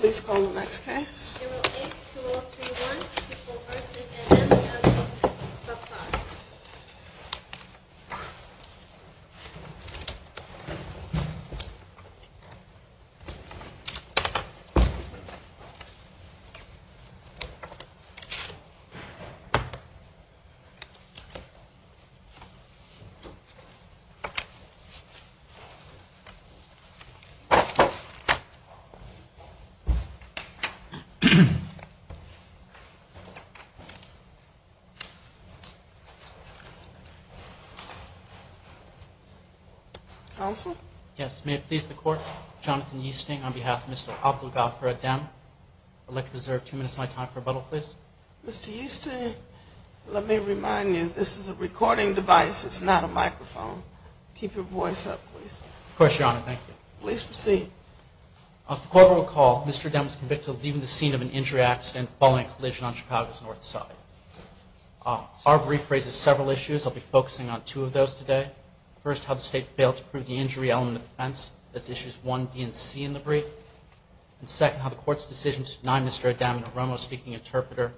Please call the next case. Counsel? Yes, may it please the court. Jonathan Easting on behalf of Mr. Abdulgafer again. I'd like to reserve two minutes of my time for rebuttal, please. Mr. Easting, let me remind you this is a recording device. It's not a microphone. Keep your voice up, please. Of course, Your Honor. Thank you. Please proceed. As the Court will recall, Mr. O'Dem was convicted of leaving the scene of an injury accident following a collision on Chicago's North Side. Our brief raises several issues. I'll be focusing on two of those today. First, how the State failed to prove the injury element of offense. That's Issues 1b and c in the brief. And second, how the Court's decision to deny Mr. O'Dem an Oromo-speaking interpreter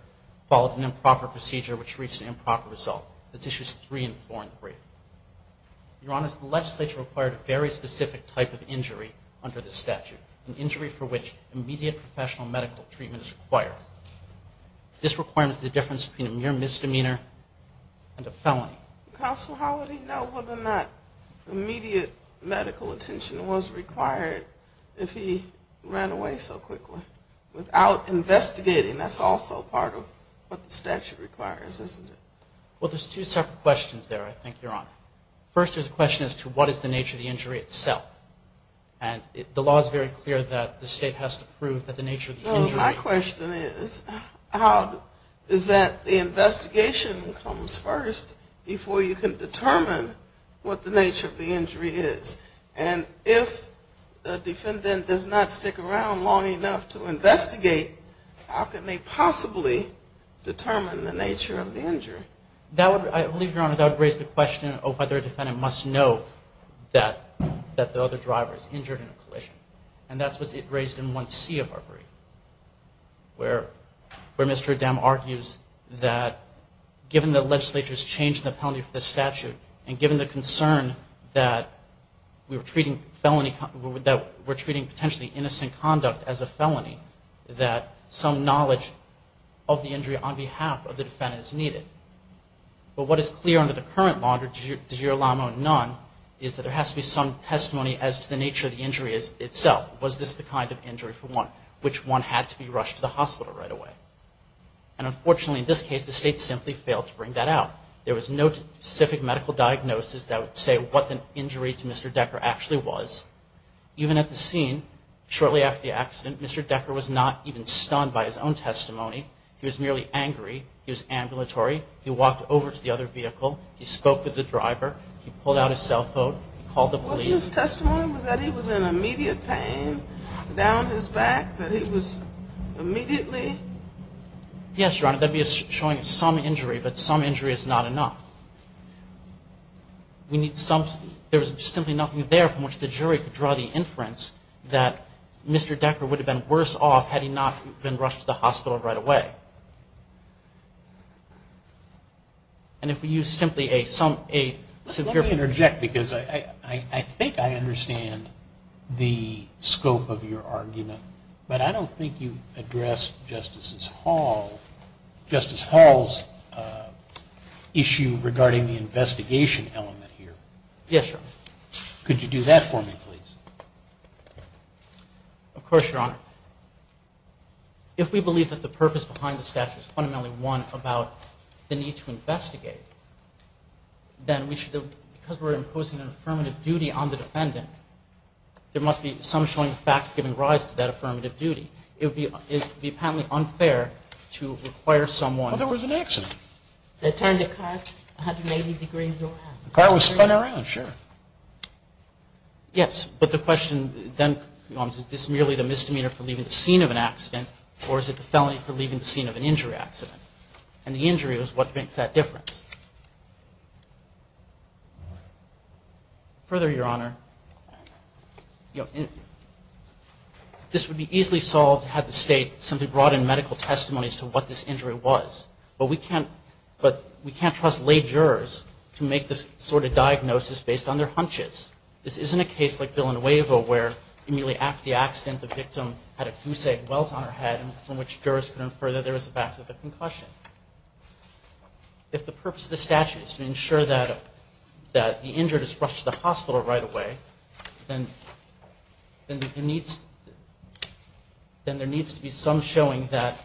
followed an improper procedure which reached an improper result. That's Issues 3 and 4 in the brief. Your Honor, the legislature required a very specific type of injury under the statute, an injury for which immediate professional medical treatment is required. This requirement is the difference between a mere misdemeanor and a felony. Counsel, how would he know whether or not immediate medical attention was required if he ran away so quickly without investigating? That's also part of what the statute requires, isn't it? Well, there's two separate questions there, I think, Your Honor. First, there's a question as to what is the nature of the injury itself. And the law is very clear that the State has to prove the nature of the injury. My question is, is that the investigation comes first before you can determine what the nature of the injury is? And if a defendant does not stick around long enough to investigate, how can they possibly determine the nature of the injury? I believe, Your Honor, that would raise the question of whether a defendant must know that the other driver is injured in a collision. And that's what it raised in 1C of our brief, where Mr. O'Dem argues that given the legislature's change in the penalty for the statute and given the concern that we're treating potentially innocent conduct as a felony, that some knowledge of the injury on behalf of the defendant is needed. But what is clear under the current law under di jure lamo non, is that there has to be some testimony as to the nature of the injury itself. Was this the kind of injury for which one had to be rushed to the hospital right away? And unfortunately, in this case, the State simply failed to bring that out. There was no specific medical diagnosis that would say what the injury to Mr. Decker actually was. Even at the scene, shortly after the accident, Mr. Decker was not even stunned by his own testimony. He was merely angry. He was ambulatory. He walked over to the other vehicle. He spoke with the driver. He pulled out his cell phone. He called the police. His testimony was that he was in immediate pain down his back? That he was immediately? Yes, Your Honor. That would be showing some injury, but some injury is not enough. We need some – there was simply nothing there from which the jury could draw the inference that Mr. Decker would have been worse off had he not been rushed to the hospital right away. Let me interject because I think I understand the scope of your argument, but I don't think you addressed Justice Hall's issue regarding the investigation element here. Yes, Your Honor. Could you do that for me, please? Of course, Your Honor. If we believe that the purpose behind the statute is fundamentally one about the need to investigate, then we should – because we're imposing an affirmative duty on the defendant, there must be some showing facts giving rise to that affirmative duty. It would be apparently unfair to require someone – Well, there was an accident. They turned the car 180 degrees around. The car was spun around, sure. Yes, but the question then becomes, is this merely the misdemeanor for leaving the scene of an accident, or is it the felony for leaving the scene of an injury accident? And the injury was what makes that difference? Further, Your Honor, this would be easily solved had the State simply brought in medical testimonies to what this injury was. But we can't trust lay jurors to make this sort of diagnosis based on their hunches. This isn't a case like Bill and Wave, where immediately after the accident, the victim had a goose egg welt on her head, from which jurors could infer that there was a back-to-back concussion. If the purpose of the statute is to ensure that the injured is rushed to the hospital right away, then there needs to be some showing that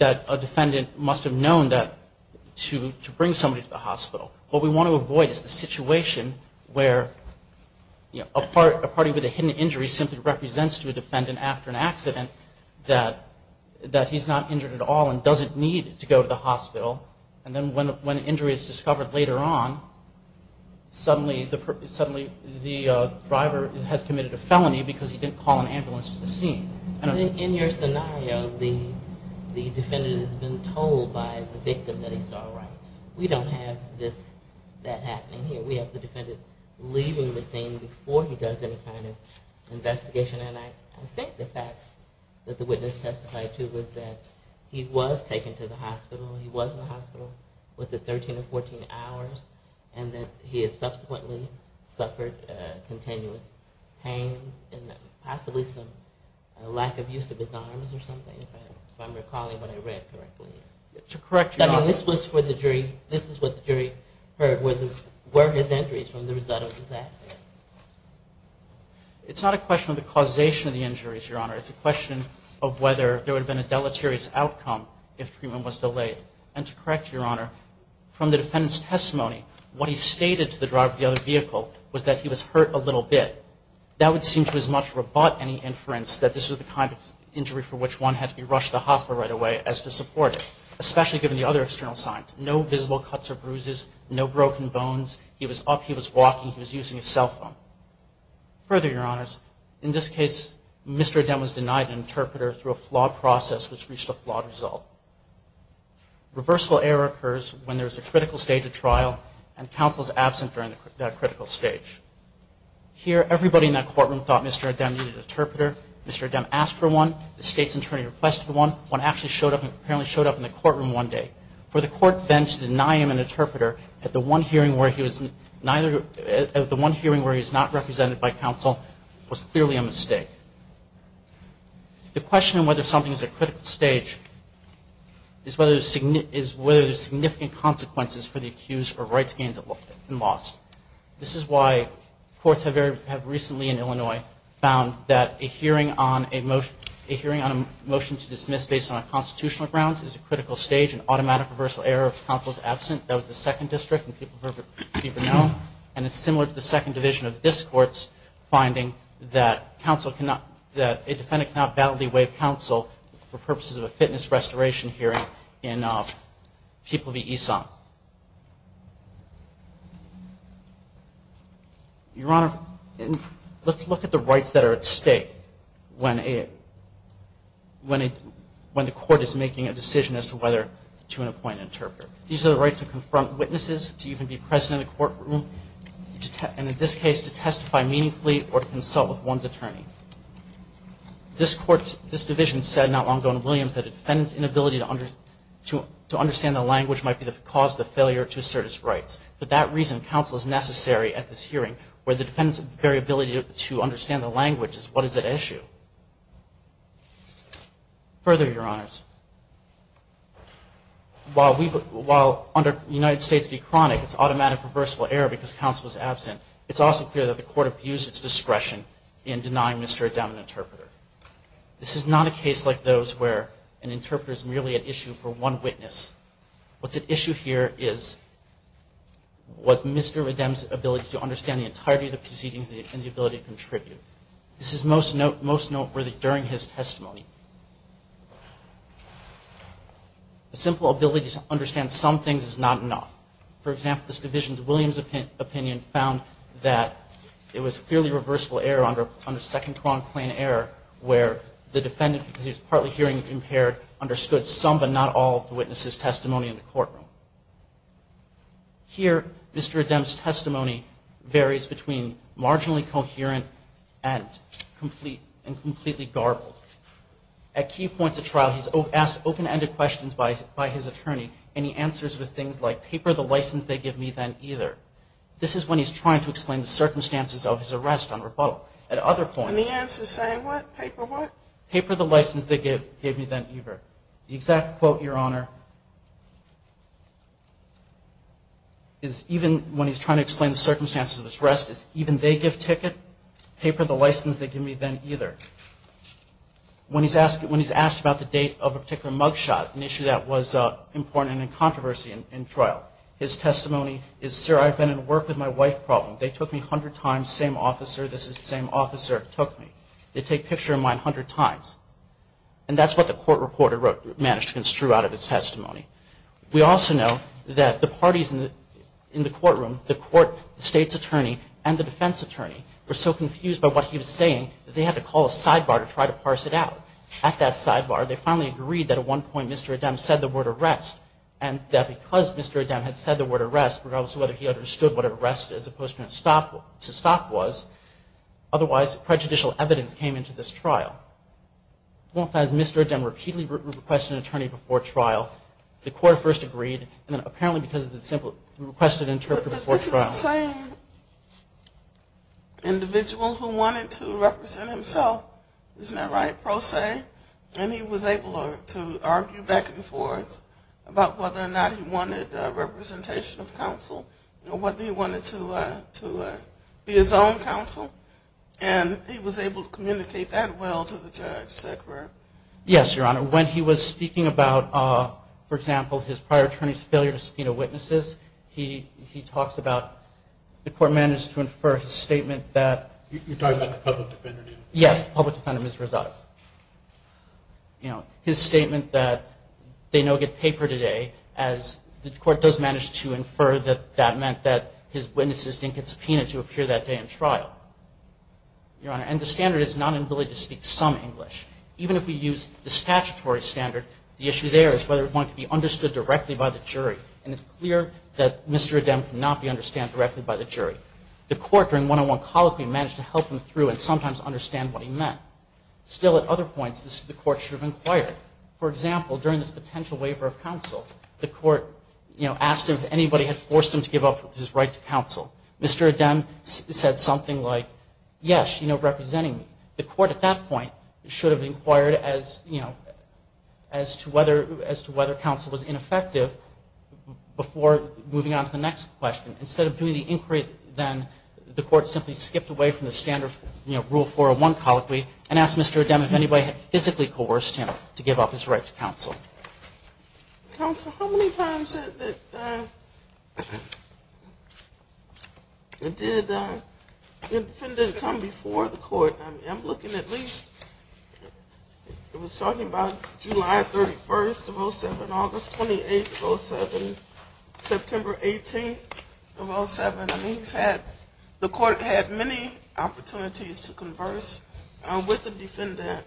a defendant must have known to bring somebody to the hospital. What we want to avoid is the situation where a party with a hidden injury simply represents to a defendant after an accident that he's not injured at all and doesn't need to go to the hospital. And then when an injury is discovered later on, suddenly the driver has committed a felony because he didn't call an ambulance to the scene. In your scenario, the defendant has been told by the victim that he's all right. We don't have that happening here. We have the defendant leaving the scene before he does any kind of investigation. And I think the facts that the witness testified to was that he was taken to the hospital, he was in the hospital for 13 or 14 hours, and that he has subsequently suffered continuous pain and possibly some lack of use of his arms or something, if I'm recalling what I read correctly. I mean, this is what the jury heard, were his injuries from the result of the accident. It's not a question of the causation of the injuries, Your Honor. It's a question of whether there would have been a deleterious outcome if treatment was delayed. And to correct Your Honor, from the defendant's testimony, what he stated to the driver of the other vehicle was that he was hurt a little bit. That would seem to as much rebut any inference that this was the kind of injury for which one had to be rushed to the hospital right away as to support it, especially given the other external signs. No visible cuts or bruises, no broken bones, he was up, he was walking, he was using his cell phone. Further, Your Honors, in this case, Mr. Adem was denied an interpreter through a flawed process which reached a flawed result. Reversible error occurs when there is a critical stage of trial and counsel is absent during that critical stage. Here, everybody in that courtroom thought Mr. Adem needed an interpreter. Mr. Adem asked for one. The state's attorney requested one. One actually showed up and apparently showed up in the courtroom one day. For the court then to deny him an interpreter at the one hearing where he was not represented by counsel was clearly a mistake. The question of whether something is at a critical stage is whether there are significant consequences for the accused or rights gains and loss. This is why courts have recently in Illinois found that a hearing on a motion to dismiss based on constitutional grounds is a critical stage. An automatic reversal error if counsel is absent. That was the second district in People v. Brunel. And it's similar to the second division of this court's finding that a defendant cannot battle the way of counsel for purposes of a fitness restoration hearing in People v. Esau. Your Honor, let's look at the rights that are at stake when the court is making a decision as to whether to appoint an interpreter. These are the right to confront witnesses, to even be present in the courtroom, and in this case to testify meaningfully or to consult with one's attorney. This division said not long ago in Williams that a defendant's inability to understand the language might be the cause of the failure to assert his rights. For that reason, counsel is necessary at this hearing where the defendant's very ability to understand the language is what is at issue. Further, Your Honors, while under United States v. Chronic, it's automatic reversal error because counsel is absent. It's also clear that the court abused its discretion in denying Mr. O'Dowd an interpreter. This is not a case like those where an interpreter is merely an issue for one witness. What's at issue here was Mr. O'Dowd's ability to understand the entirety of the proceedings and the ability to contribute. This is most noteworthy during his testimony. A simple ability to understand some things is not enough. For example, this division's Williams opinion found that it was clearly reversible error under second quorum claim error where the defendant, because he was partly hearing impaired, understood some but not all of the witness's testimony in the courtroom. Here, Mr. O'Dowd's testimony varies between marginally coherent and completely garbled. At key points of trial, he's asked open-ended questions by his attorney and he answers with things like, paper the license they give me then either. This is when he's trying to explain the circumstances of his arrest on rebuttal. At other points... And the answer is saying what? Paper what? Paper the license they give me then either. The exact quote, Your Honor, is even when he's trying to explain the circumstances of his arrest, it's even they give ticket, paper the license they give me then either. When he's asked about the date of a particular mugshot, an issue that was important and in controversy in trial, his testimony is, sir, I've been in work with my wife problem. They took me 100 times. Same officer. This is the same officer who took me. They take picture of mine 100 times. And that's what the court reporter wrote, managed to construe out of his testimony. We also know that the parties in the courtroom, the court, the state's attorney and the defense attorney, were so confused by what he was saying that they had to call a sidebar to try to parse it out. At that sidebar, they finally agreed that at one point Mr. O'Dowd said the word arrest and that because Mr. O'Dowd had said the word arrest, regardless of whether he understood what arrest as opposed to stop was, otherwise prejudicial evidence came into this trial. As Mr. O'Dowd repeatedly requested an attorney before trial, the court first agreed and then apparently because of the simple requested interpreter before trial. But this is the same individual who wanted to represent himself. Isn't that right, pro se? And he was able to argue back and forth about whether or not he wanted representation of counsel or whether he wanted to be his own counsel. And he was able to communicate that well to the judge. Is that correct? Yes, Your Honor. When he was speaking about, for example, his prior attorney's failure to subpoena witnesses, he talks about the court managed to infer his statement that... You're talking about the public defender? Yes, the public defender, Ms. Rosado. You know, his statement that they no get paper today, as the court does manage to infer that that meant that his witnesses didn't get subpoenaed to appear that day in trial. Your Honor, and the standard is not an ability to speak some English. Even if we use the statutory standard, the issue there is whether one can be understood directly by the jury. And it's clear that Mr. O'Dowd cannot be understood directly by the jury. The court during one-on-one colloquy managed to help him through and sometimes understand what he meant. Still, at other points, the court should have inquired. For example, during this potential waiver of counsel, the court asked him if anybody had forced him to give up his right to counsel. Mr. O'Dowd said something like, yes, you know, representing me. The court at that point should have inquired as to whether counsel was ineffective before moving on to the next question. Instead of doing the inquiry then, the court simply skipped away from the standard rule 401 colloquy and asked Mr. O'Dowd if anybody had physically coerced him to give up his right to counsel. Counsel, how many times did the defendant come before the court? I'm looking at least, it was talking about July 31st of 07, August 28th of 07, September 18th of 07. The court had many opportunities to converse with the defendant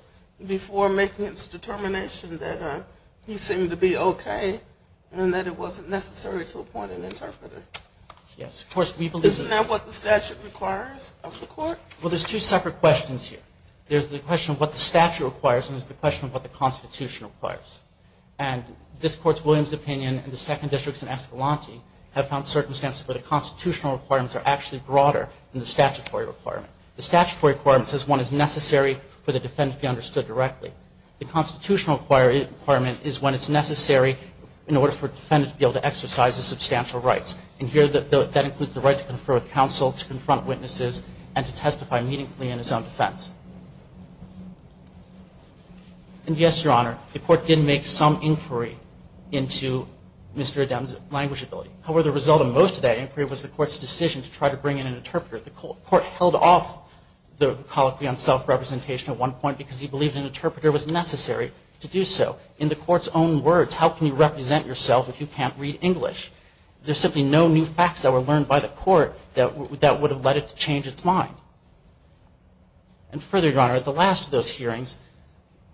before making its determination that he seemed to be okay and that it wasn't necessary to appoint an interpreter. Isn't that what the statute requires of the court? Well, there's two separate questions here. There's the question of what the statute requires and there's the question of what the Constitution requires. And this Court's Williams opinion and the second district's in Escalante have found circumstances where the constitutional requirements are actually broader than the statutory requirement. The statutory requirement says one is necessary for the defendant to be understood directly. The constitutional requirement is when it's necessary in order for a defendant to be able to exercise his substantial rights. And here that includes the right to confer with counsel, to confront witnesses, and to testify meaningfully in his own defense. And yes, Your Honor, the court did make some inquiry into Mr. Adem's language ability. However, the result of most of that inquiry was the court's decision to try to bring in an interpreter. The court held off the colloquy on self-representation at one point because he believed an interpreter was necessary to do so. In the court's own words, how can you represent yourself if you can't read English? There's simply no new facts that were learned by the court that would have led it to change its mind. And further, Your Honor, at the last of those hearings,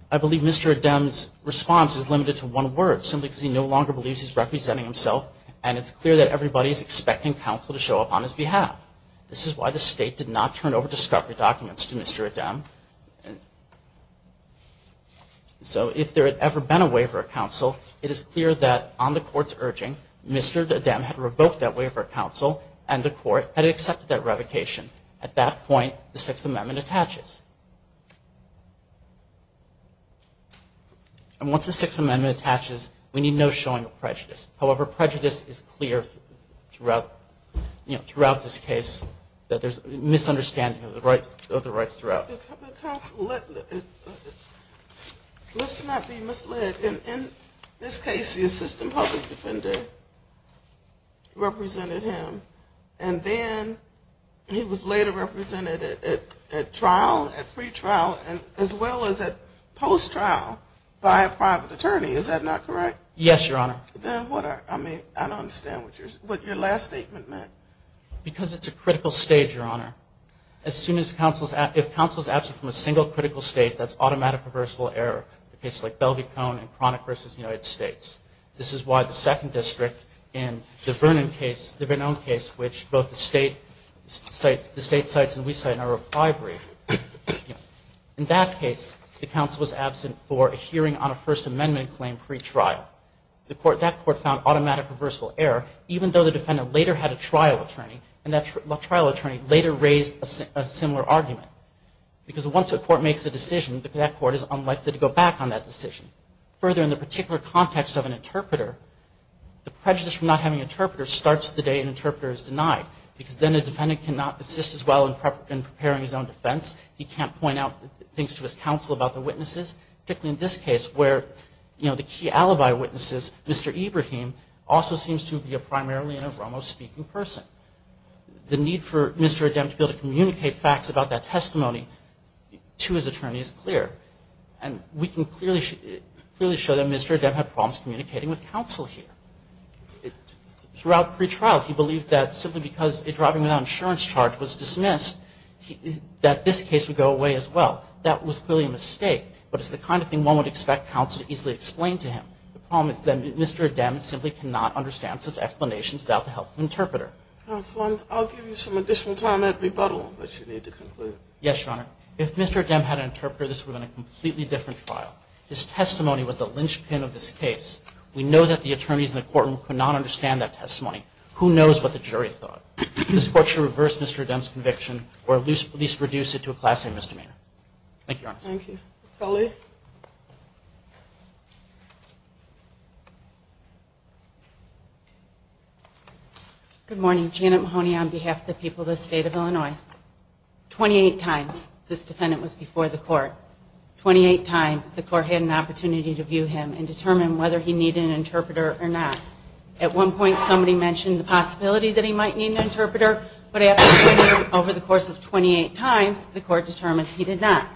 I believe Mr. Adem's response is limited to one word simply because he no longer believes he's representing himself and it's clear that everybody is expecting counsel to show up on his behalf. This is why the state did not turn over discovery documents to Mr. Adem. So if there had ever been a waiver of counsel, it is clear that on the court's urging, Mr. Adem had revoked that waiver of counsel and the court had accepted that revocation. At that point, the Sixth Amendment attaches. And once the Sixth Amendment attaches, we need no showing of prejudice. However, prejudice is clear throughout this case that there's a misunderstanding of the rights throughout. Let's not be misled. In this case, the assistant public defender represented him and then he was later represented at trial, at pre-trial, as well as at post-trial by a private attorney. Is that not correct? Yes, Your Honor. Then what are, I mean, I don't understand what your last statement meant. Because it's a critical stage, Your Honor. As soon as counsel's, if counsel's absent from a single critical stage, that's automatic reversible error, a case like Bellevue Cone and Chronic v. United States. This is why the second district in the Vernon case, the Vernon case, which both the state cites, the state cites and we cite, are a bribery. In that case, the counsel was absent for a hearing on a First Amendment claim pre-trial. That court found automatic reversible error, even though the defendant later had a trial attorney and that trial attorney later raised a similar argument. Because once a court makes a decision, that court is unlikely to go back on that decision. Further, in the particular context of an interpreter, the prejudice from not having an interpreter starts the day an interpreter is denied. Because then the defendant cannot assist as well in preparing his own defense. He can't point out things to his counsel about the witnesses. Particularly in this case, where, you know, the key alibi witnesses, Mr. Ibrahim, also seems to be primarily a Romo-speaking person. The need for Mr. Adem to be able to communicate facts about that testimony to his attorney is clear. And we can clearly show that Mr. Adem had problems communicating with counsel here. Throughout pre-trial, he believed that simply because a driving without insurance charge was dismissed, that this case would go away as well. That was clearly a mistake, but it's the kind of thing one would expect counsel to easily explain to him. The problem is that Mr. Adem simply cannot understand such explanations without the help of an interpreter. Counsel, I'll give you some additional time at rebuttal, but you need to conclude. Yes, Your Honor. If Mr. Adem had an interpreter, this would have been a completely different trial. His testimony was the linchpin of this case. We know that the attorneys in the courtroom could not understand that testimony. Who knows what the jury thought? This Court should reverse Mr. Adem's conviction or at least reduce it to a class A misdemeanor. Thank you, Your Honor. Thank you. Kelly? Good morning. Janet Mahoney on behalf of the people of the State of Illinois. Twenty-eight times this defendant was before the court. Twenty-eight times the court had an opportunity to view him and determine whether he needed an interpreter or not. At one point, somebody mentioned the possibility that he might need an interpreter, but after hearing him over the course of 28 times, the court determined he did not.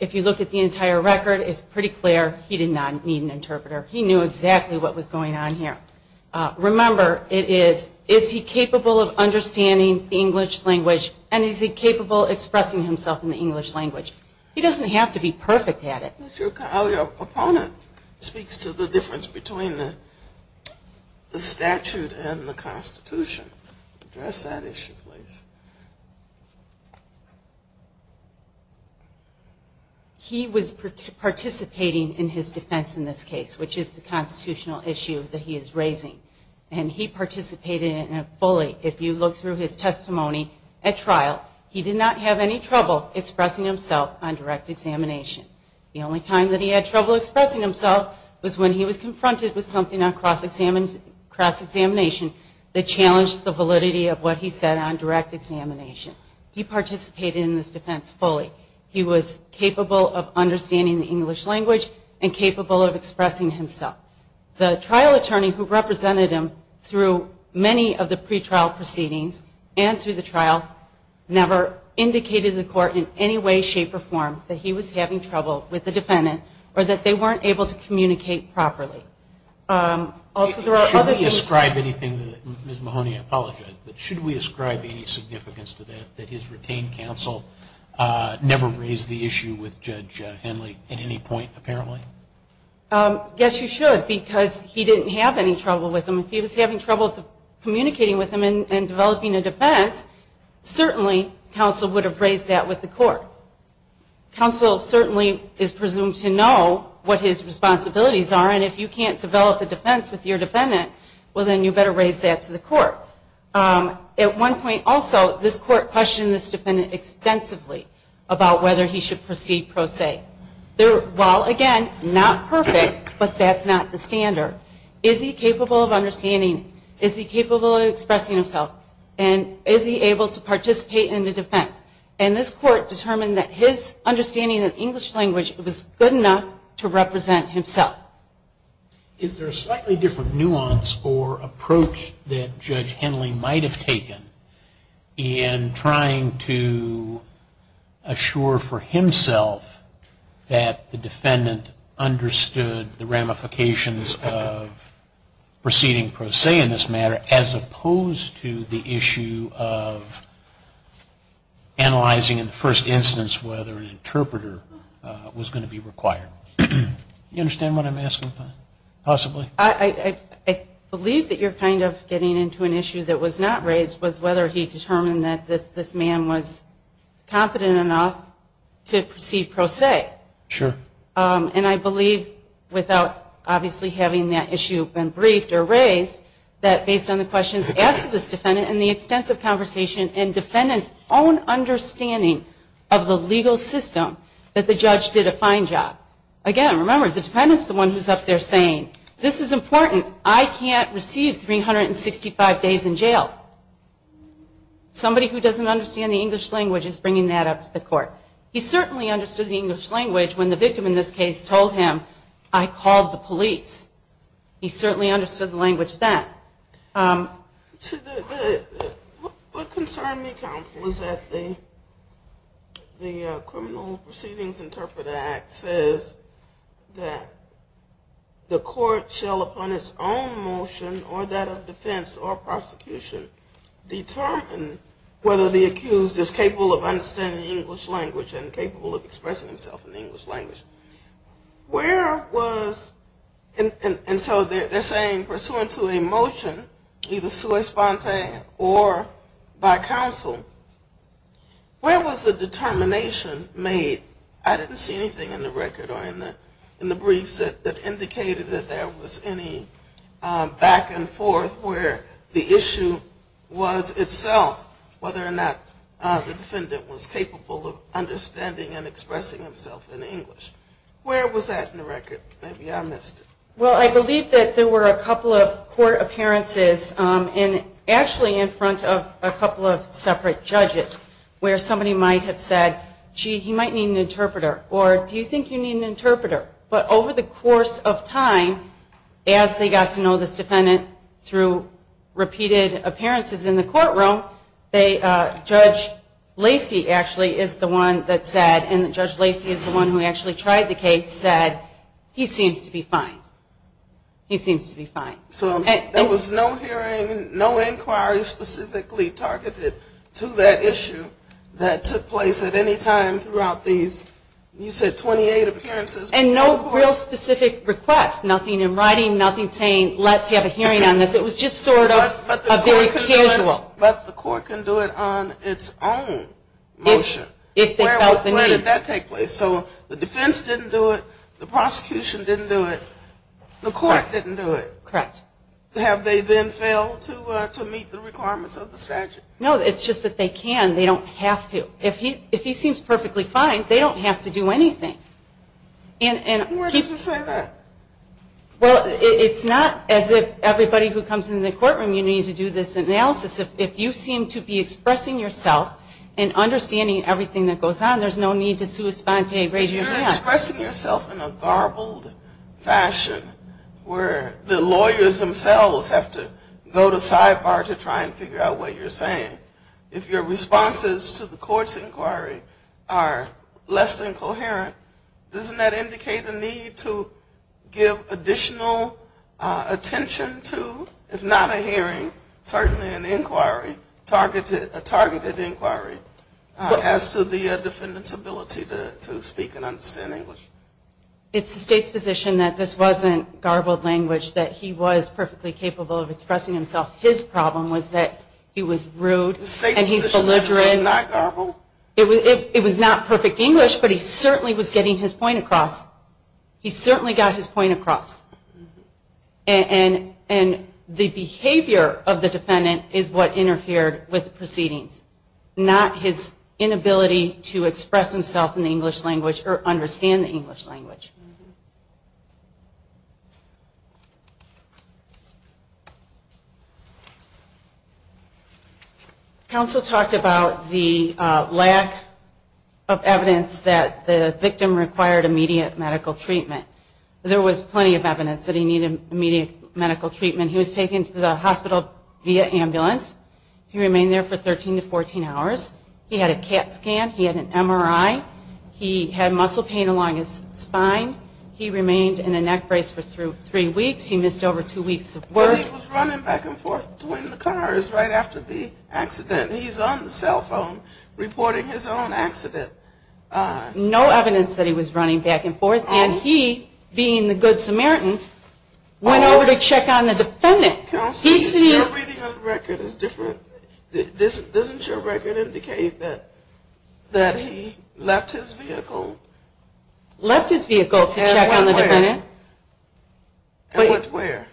If you look at the entire record, it's pretty clear he did not need an interpreter. He knew exactly what was going on here. Remember, it is, is he capable of understanding the English language and is he capable of expressing himself in the English language? He doesn't have to be perfect at it. Your opponent speaks to the difference between the statute and the Constitution. Address that issue, please. He was participating in his defense in this case, which is the constitutional issue that he is raising. And he participated fully. If you look through his testimony at trial, he did not have any trouble expressing himself on direct examination. The only time that he had trouble expressing himself was when he was confronted with something on cross-examination that challenged the validity of what he said on direct examination. He participated in this defense fully. He was capable of understanding the English language and capable of expressing himself. The trial attorney who represented him through many of the pretrial proceedings and through the trial never indicated to the court in any way, shape, or form that he was having trouble with the defendant or that they weren't able to communicate properly. Also, there are other issues. Should we ascribe anything to that? Ms. Mahoney, I apologize. But should we ascribe any significance to that, that his retained counsel never raised the issue with Judge Henley at any point, apparently? Yes, you should, because he didn't have any trouble with him. If he was having trouble communicating with him and developing a defense, certainly counsel would have raised that with the court. Counsel certainly is presumed to know what his responsibilities are. And if you can't develop a defense with your defendant, well, then you better raise that to the court. At one point also, this court questioned this defendant extensively about whether he should proceed pro se. While, again, not perfect, but that's not the standard, is he capable of understanding, is he capable of expressing himself, and is he able to participate in the defense? And this court determined that his understanding of the English language was good enough to represent himself. Is there a slightly different nuance or approach that Judge Henley might have taken in trying to assure for himself that the defendant understood the ramifications of proceeding pro se in this matter, as opposed to the issue of analyzing in the first instance whether an interpreter was going to be required? Do you understand what I'm asking, possibly? I believe that you're kind of getting into an issue that was not raised, was whether he determined that this man was competent enough to proceed pro se. Sure. And I believe, without obviously having that issue been briefed or raised, that based on the questions asked to this defendant and the extensive conversation and defendant's own understanding of the legal system, that the judge did a fine job. Again, remember, the defendant's the one who's up there saying, this is important, I can't receive 365 days in jail. Somebody who doesn't understand the English language is bringing that up to the court. He certainly understood the English language when the victim in this case told him, I called the police. He certainly understood the language then. What concerned me, counsel, is that the Criminal Proceedings Interpreter Act says that the court shall, upon its own motion or that of defense or prosecution, determine whether the accused is capable of understanding the English language and capable of expressing himself in the English language. Where was, and so they're saying pursuant to a motion, either sua sponte or by counsel, where was the determination made? I didn't see anything in the record or in the briefs that indicated that there was any back and forth where the issue was itself whether or not the defendant was capable of understanding and expressing himself in English. Where was that in the record? Maybe I missed it. Well, I believe that there were a couple of court appearances, and actually in front of a couple of separate judges, where somebody might have said, gee, he might need an interpreter, or do you think you need an interpreter? But over the course of time, as they got to know this defendant through repeated appearances in the courtroom, Judge Lacey actually is the one that said, and Judge Lacey is the one who actually tried the case, said he seems to be fine. He seems to be fine. So there was no hearing, no inquiry specifically targeted to that issue that took place at any time throughout these, you said 28 appearances. And no real specific request, nothing in writing, nothing saying let's have a hearing on this. It was just sort of a very casual. Well, but the court can do it on its own motion. Where did that take place? So the defense didn't do it, the prosecution didn't do it, the court didn't do it. Correct. Have they then failed to meet the requirements of the statute? No, it's just that they can. They don't have to. If he seems perfectly fine, they don't have to do anything. Why does it say that? Well, it's not as if everybody who comes into the courtroom, you need to do this analysis. If you seem to be expressing yourself and understanding everything that goes on, there's no need to sui sponte, raise your hand. If you're expressing yourself in a garbled fashion where the lawyers themselves have to go to sidebar to try and figure out what you're saying, if your responses to the court's inquiry are less than coherent, doesn't that indicate a need to give additional attention to, if not a hearing, certainly an inquiry, a targeted inquiry as to the defendant's ability to speak and understand English? It's the State's position that this wasn't garbled language, that he was perfectly capable of expressing himself. His problem was that he was rude and he's belligerent. The State's position that this was not garbled? It was not perfect English, but he certainly was getting his point across. He certainly got his point across. And the behavior of the defendant is what interfered with the proceedings, not his inability to express himself in the English language or understand the English language. Counsel talked about the lack of evidence that the victim required immediate medical treatment. There was plenty of evidence that he needed immediate medical treatment. He was taken to the hospital via ambulance. He remained there for 13 to 14 hours. He had a CAT scan. He had an MRI. He had a heart attack. He remained in a neck brace for three weeks. He missed over two weeks of work. He was running back and forth between the cars right after the accident. He's on the cell phone reporting his own accident. No evidence that he was running back and forth. And he, being the good Samaritan, went over to check on the defendant. Counsel, your reading of the record is different. Doesn't your record indicate that he left his vehicle? Left his vehicle to check on the defendant.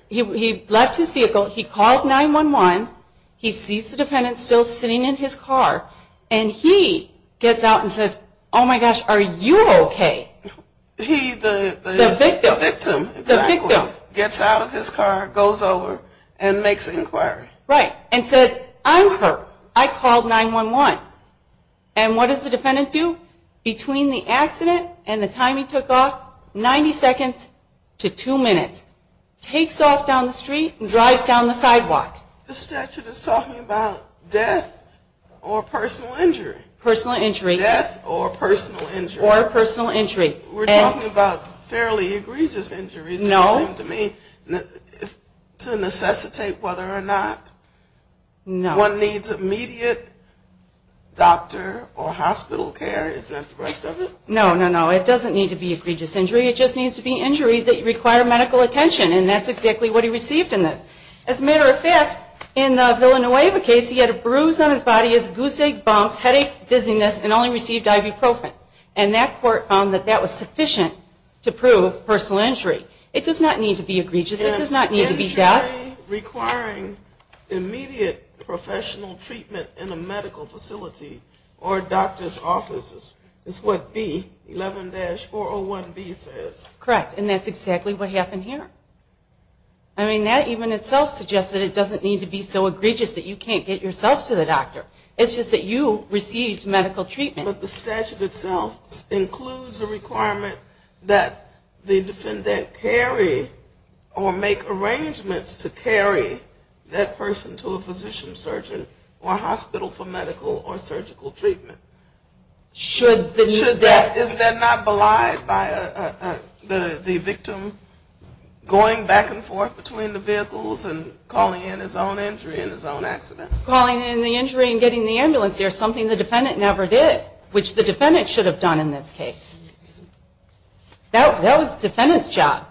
He left his vehicle. He called 911. He sees the defendant still sitting in his car. And he gets out and says, oh, my gosh, are you okay? The victim gets out of his car, goes over, and makes an inquiry. Right. And says, I'm hurt. I called 911. And what does the defendant do? Between the accident and the time he took off, 90 seconds to two minutes. Takes off down the street and drives down the sidewalk. The statute is talking about death or personal injury. Personal injury. Death or personal injury. Or personal injury. We're talking about fairly egregious injuries. No. To necessitate whether or not one needs immediate doctor or hospital care. Isn't that the rest of it? No, no, no. It doesn't need to be egregious injury. It just needs to be injury that require medical attention. And that's exactly what he received in this. As a matter of fact, in the Villanueva case, he had a bruise on his body. He had a goose egg bump, headache, dizziness, and only received ibuprofen. And that court found that that was sufficient to prove personal injury. It does not need to be egregious. It does not need to be death. Only requiring immediate professional treatment in a medical facility or doctor's offices is what B, 11-401B, says. Correct. And that's exactly what happened here. I mean, that even itself suggests that it doesn't need to be so egregious that you can't get yourself to the doctor. It's just that you received medical treatment. But the statute itself includes a requirement that the defendant carry or make arrangements to carry that person to a physician, surgeon, or hospital for medical or surgical treatment. Should that? Should that. Is that not belied by the victim going back and forth between the vehicles and calling in his own injury and his own accident? Calling in the injury and getting the ambulance here is something the defendant never did, which the defendant should have done in this case. That was the defendant's job.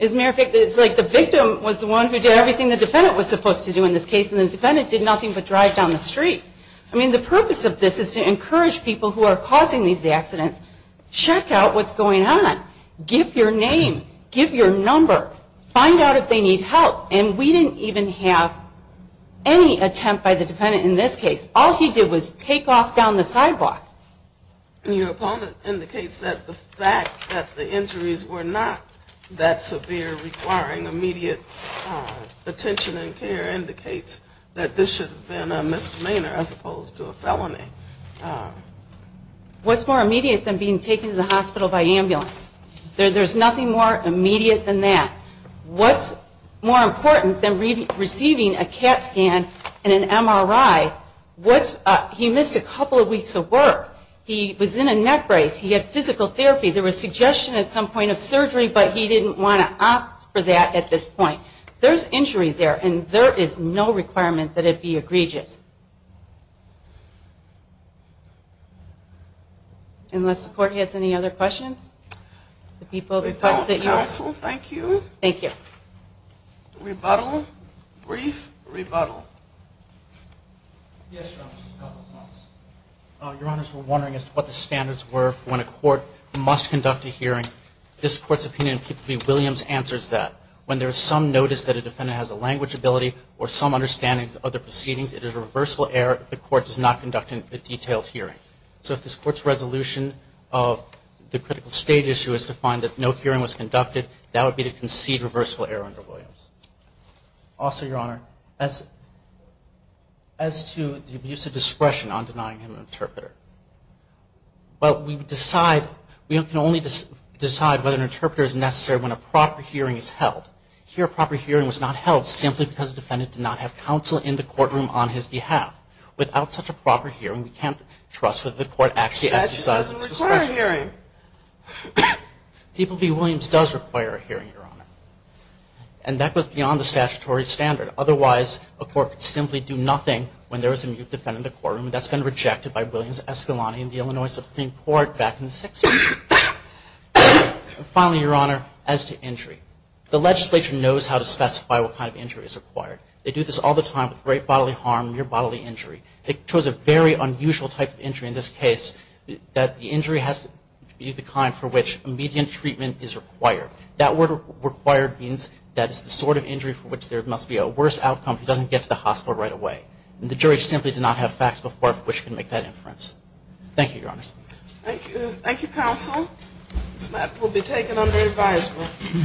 As a matter of fact, it's like the victim was the one who did everything the defendant was supposed to do in this case, and the defendant did nothing but drive down the street. I mean, the purpose of this is to encourage people who are causing these accidents, check out what's going on. Give your name. Give your number. Find out if they need help. And we didn't even have any attempt by the defendant in this case. All he did was take off down the sidewalk. Your opponent indicates that the fact that the injuries were not that severe requiring immediate attention and care indicates that this should have been a misdemeanor as opposed to a felony. What's more immediate than being taken to the hospital by ambulance? There's nothing more immediate than that. What's more important than receiving a CAT scan and an MRI? He missed a couple of weeks of work. He was in a neck brace. He had physical therapy. There was suggestion at some point of surgery, but he didn't want to opt for that at this point. There's injury there, and there is no requirement that it be egregious. Unless the court has any other questions? We don't, counsel. Thank you. Thank you. Rebuttal? Brief rebuttal? Yes, Your Honor. Just a couple of thoughts. Your Honors, we're wondering as to what the standards were for when a court must conduct a hearing. This Court's opinion, particularly Williams, answers that. When there is some notice that a defendant has a language ability or some understanding of the proceedings, it is a reversible error if the court does not conduct a detailed hearing. So if this Court's resolution of the critical stage issue is to find that no it is a reversible error under Williams. Also, Your Honor, as to the abuse of discretion on denying him an interpreter. Well, we can only decide whether an interpreter is necessary when a proper hearing is held. Here, a proper hearing was not held simply because the defendant did not have counsel in the courtroom on his behalf. Without such a proper hearing, we can't trust that the court actually exercised its discretion. That doesn't require a hearing. People v. Williams does require a hearing, Your Honor. And that goes beyond the statutory standard. Otherwise, a court could simply do nothing when there is a mute defendant in the courtroom, and that's been rejected by Williams, Escalante, and the Illinois Supreme Court back in the 60s. Finally, Your Honor, as to injury. The legislature knows how to specify what kind of injury is required. They do this all the time with great bodily harm and near bodily injury. They chose a very unusual type of injury in this case that the injury has to be the kind for which immediate treatment is required. That word required means that it's the sort of injury for which there must be a worse outcome if he doesn't get to the hospital right away. And the jury simply did not have facts before which can make that inference. Thank you, Your Honor. Thank you. Thank you, counsel. This matter will be taken under advisory.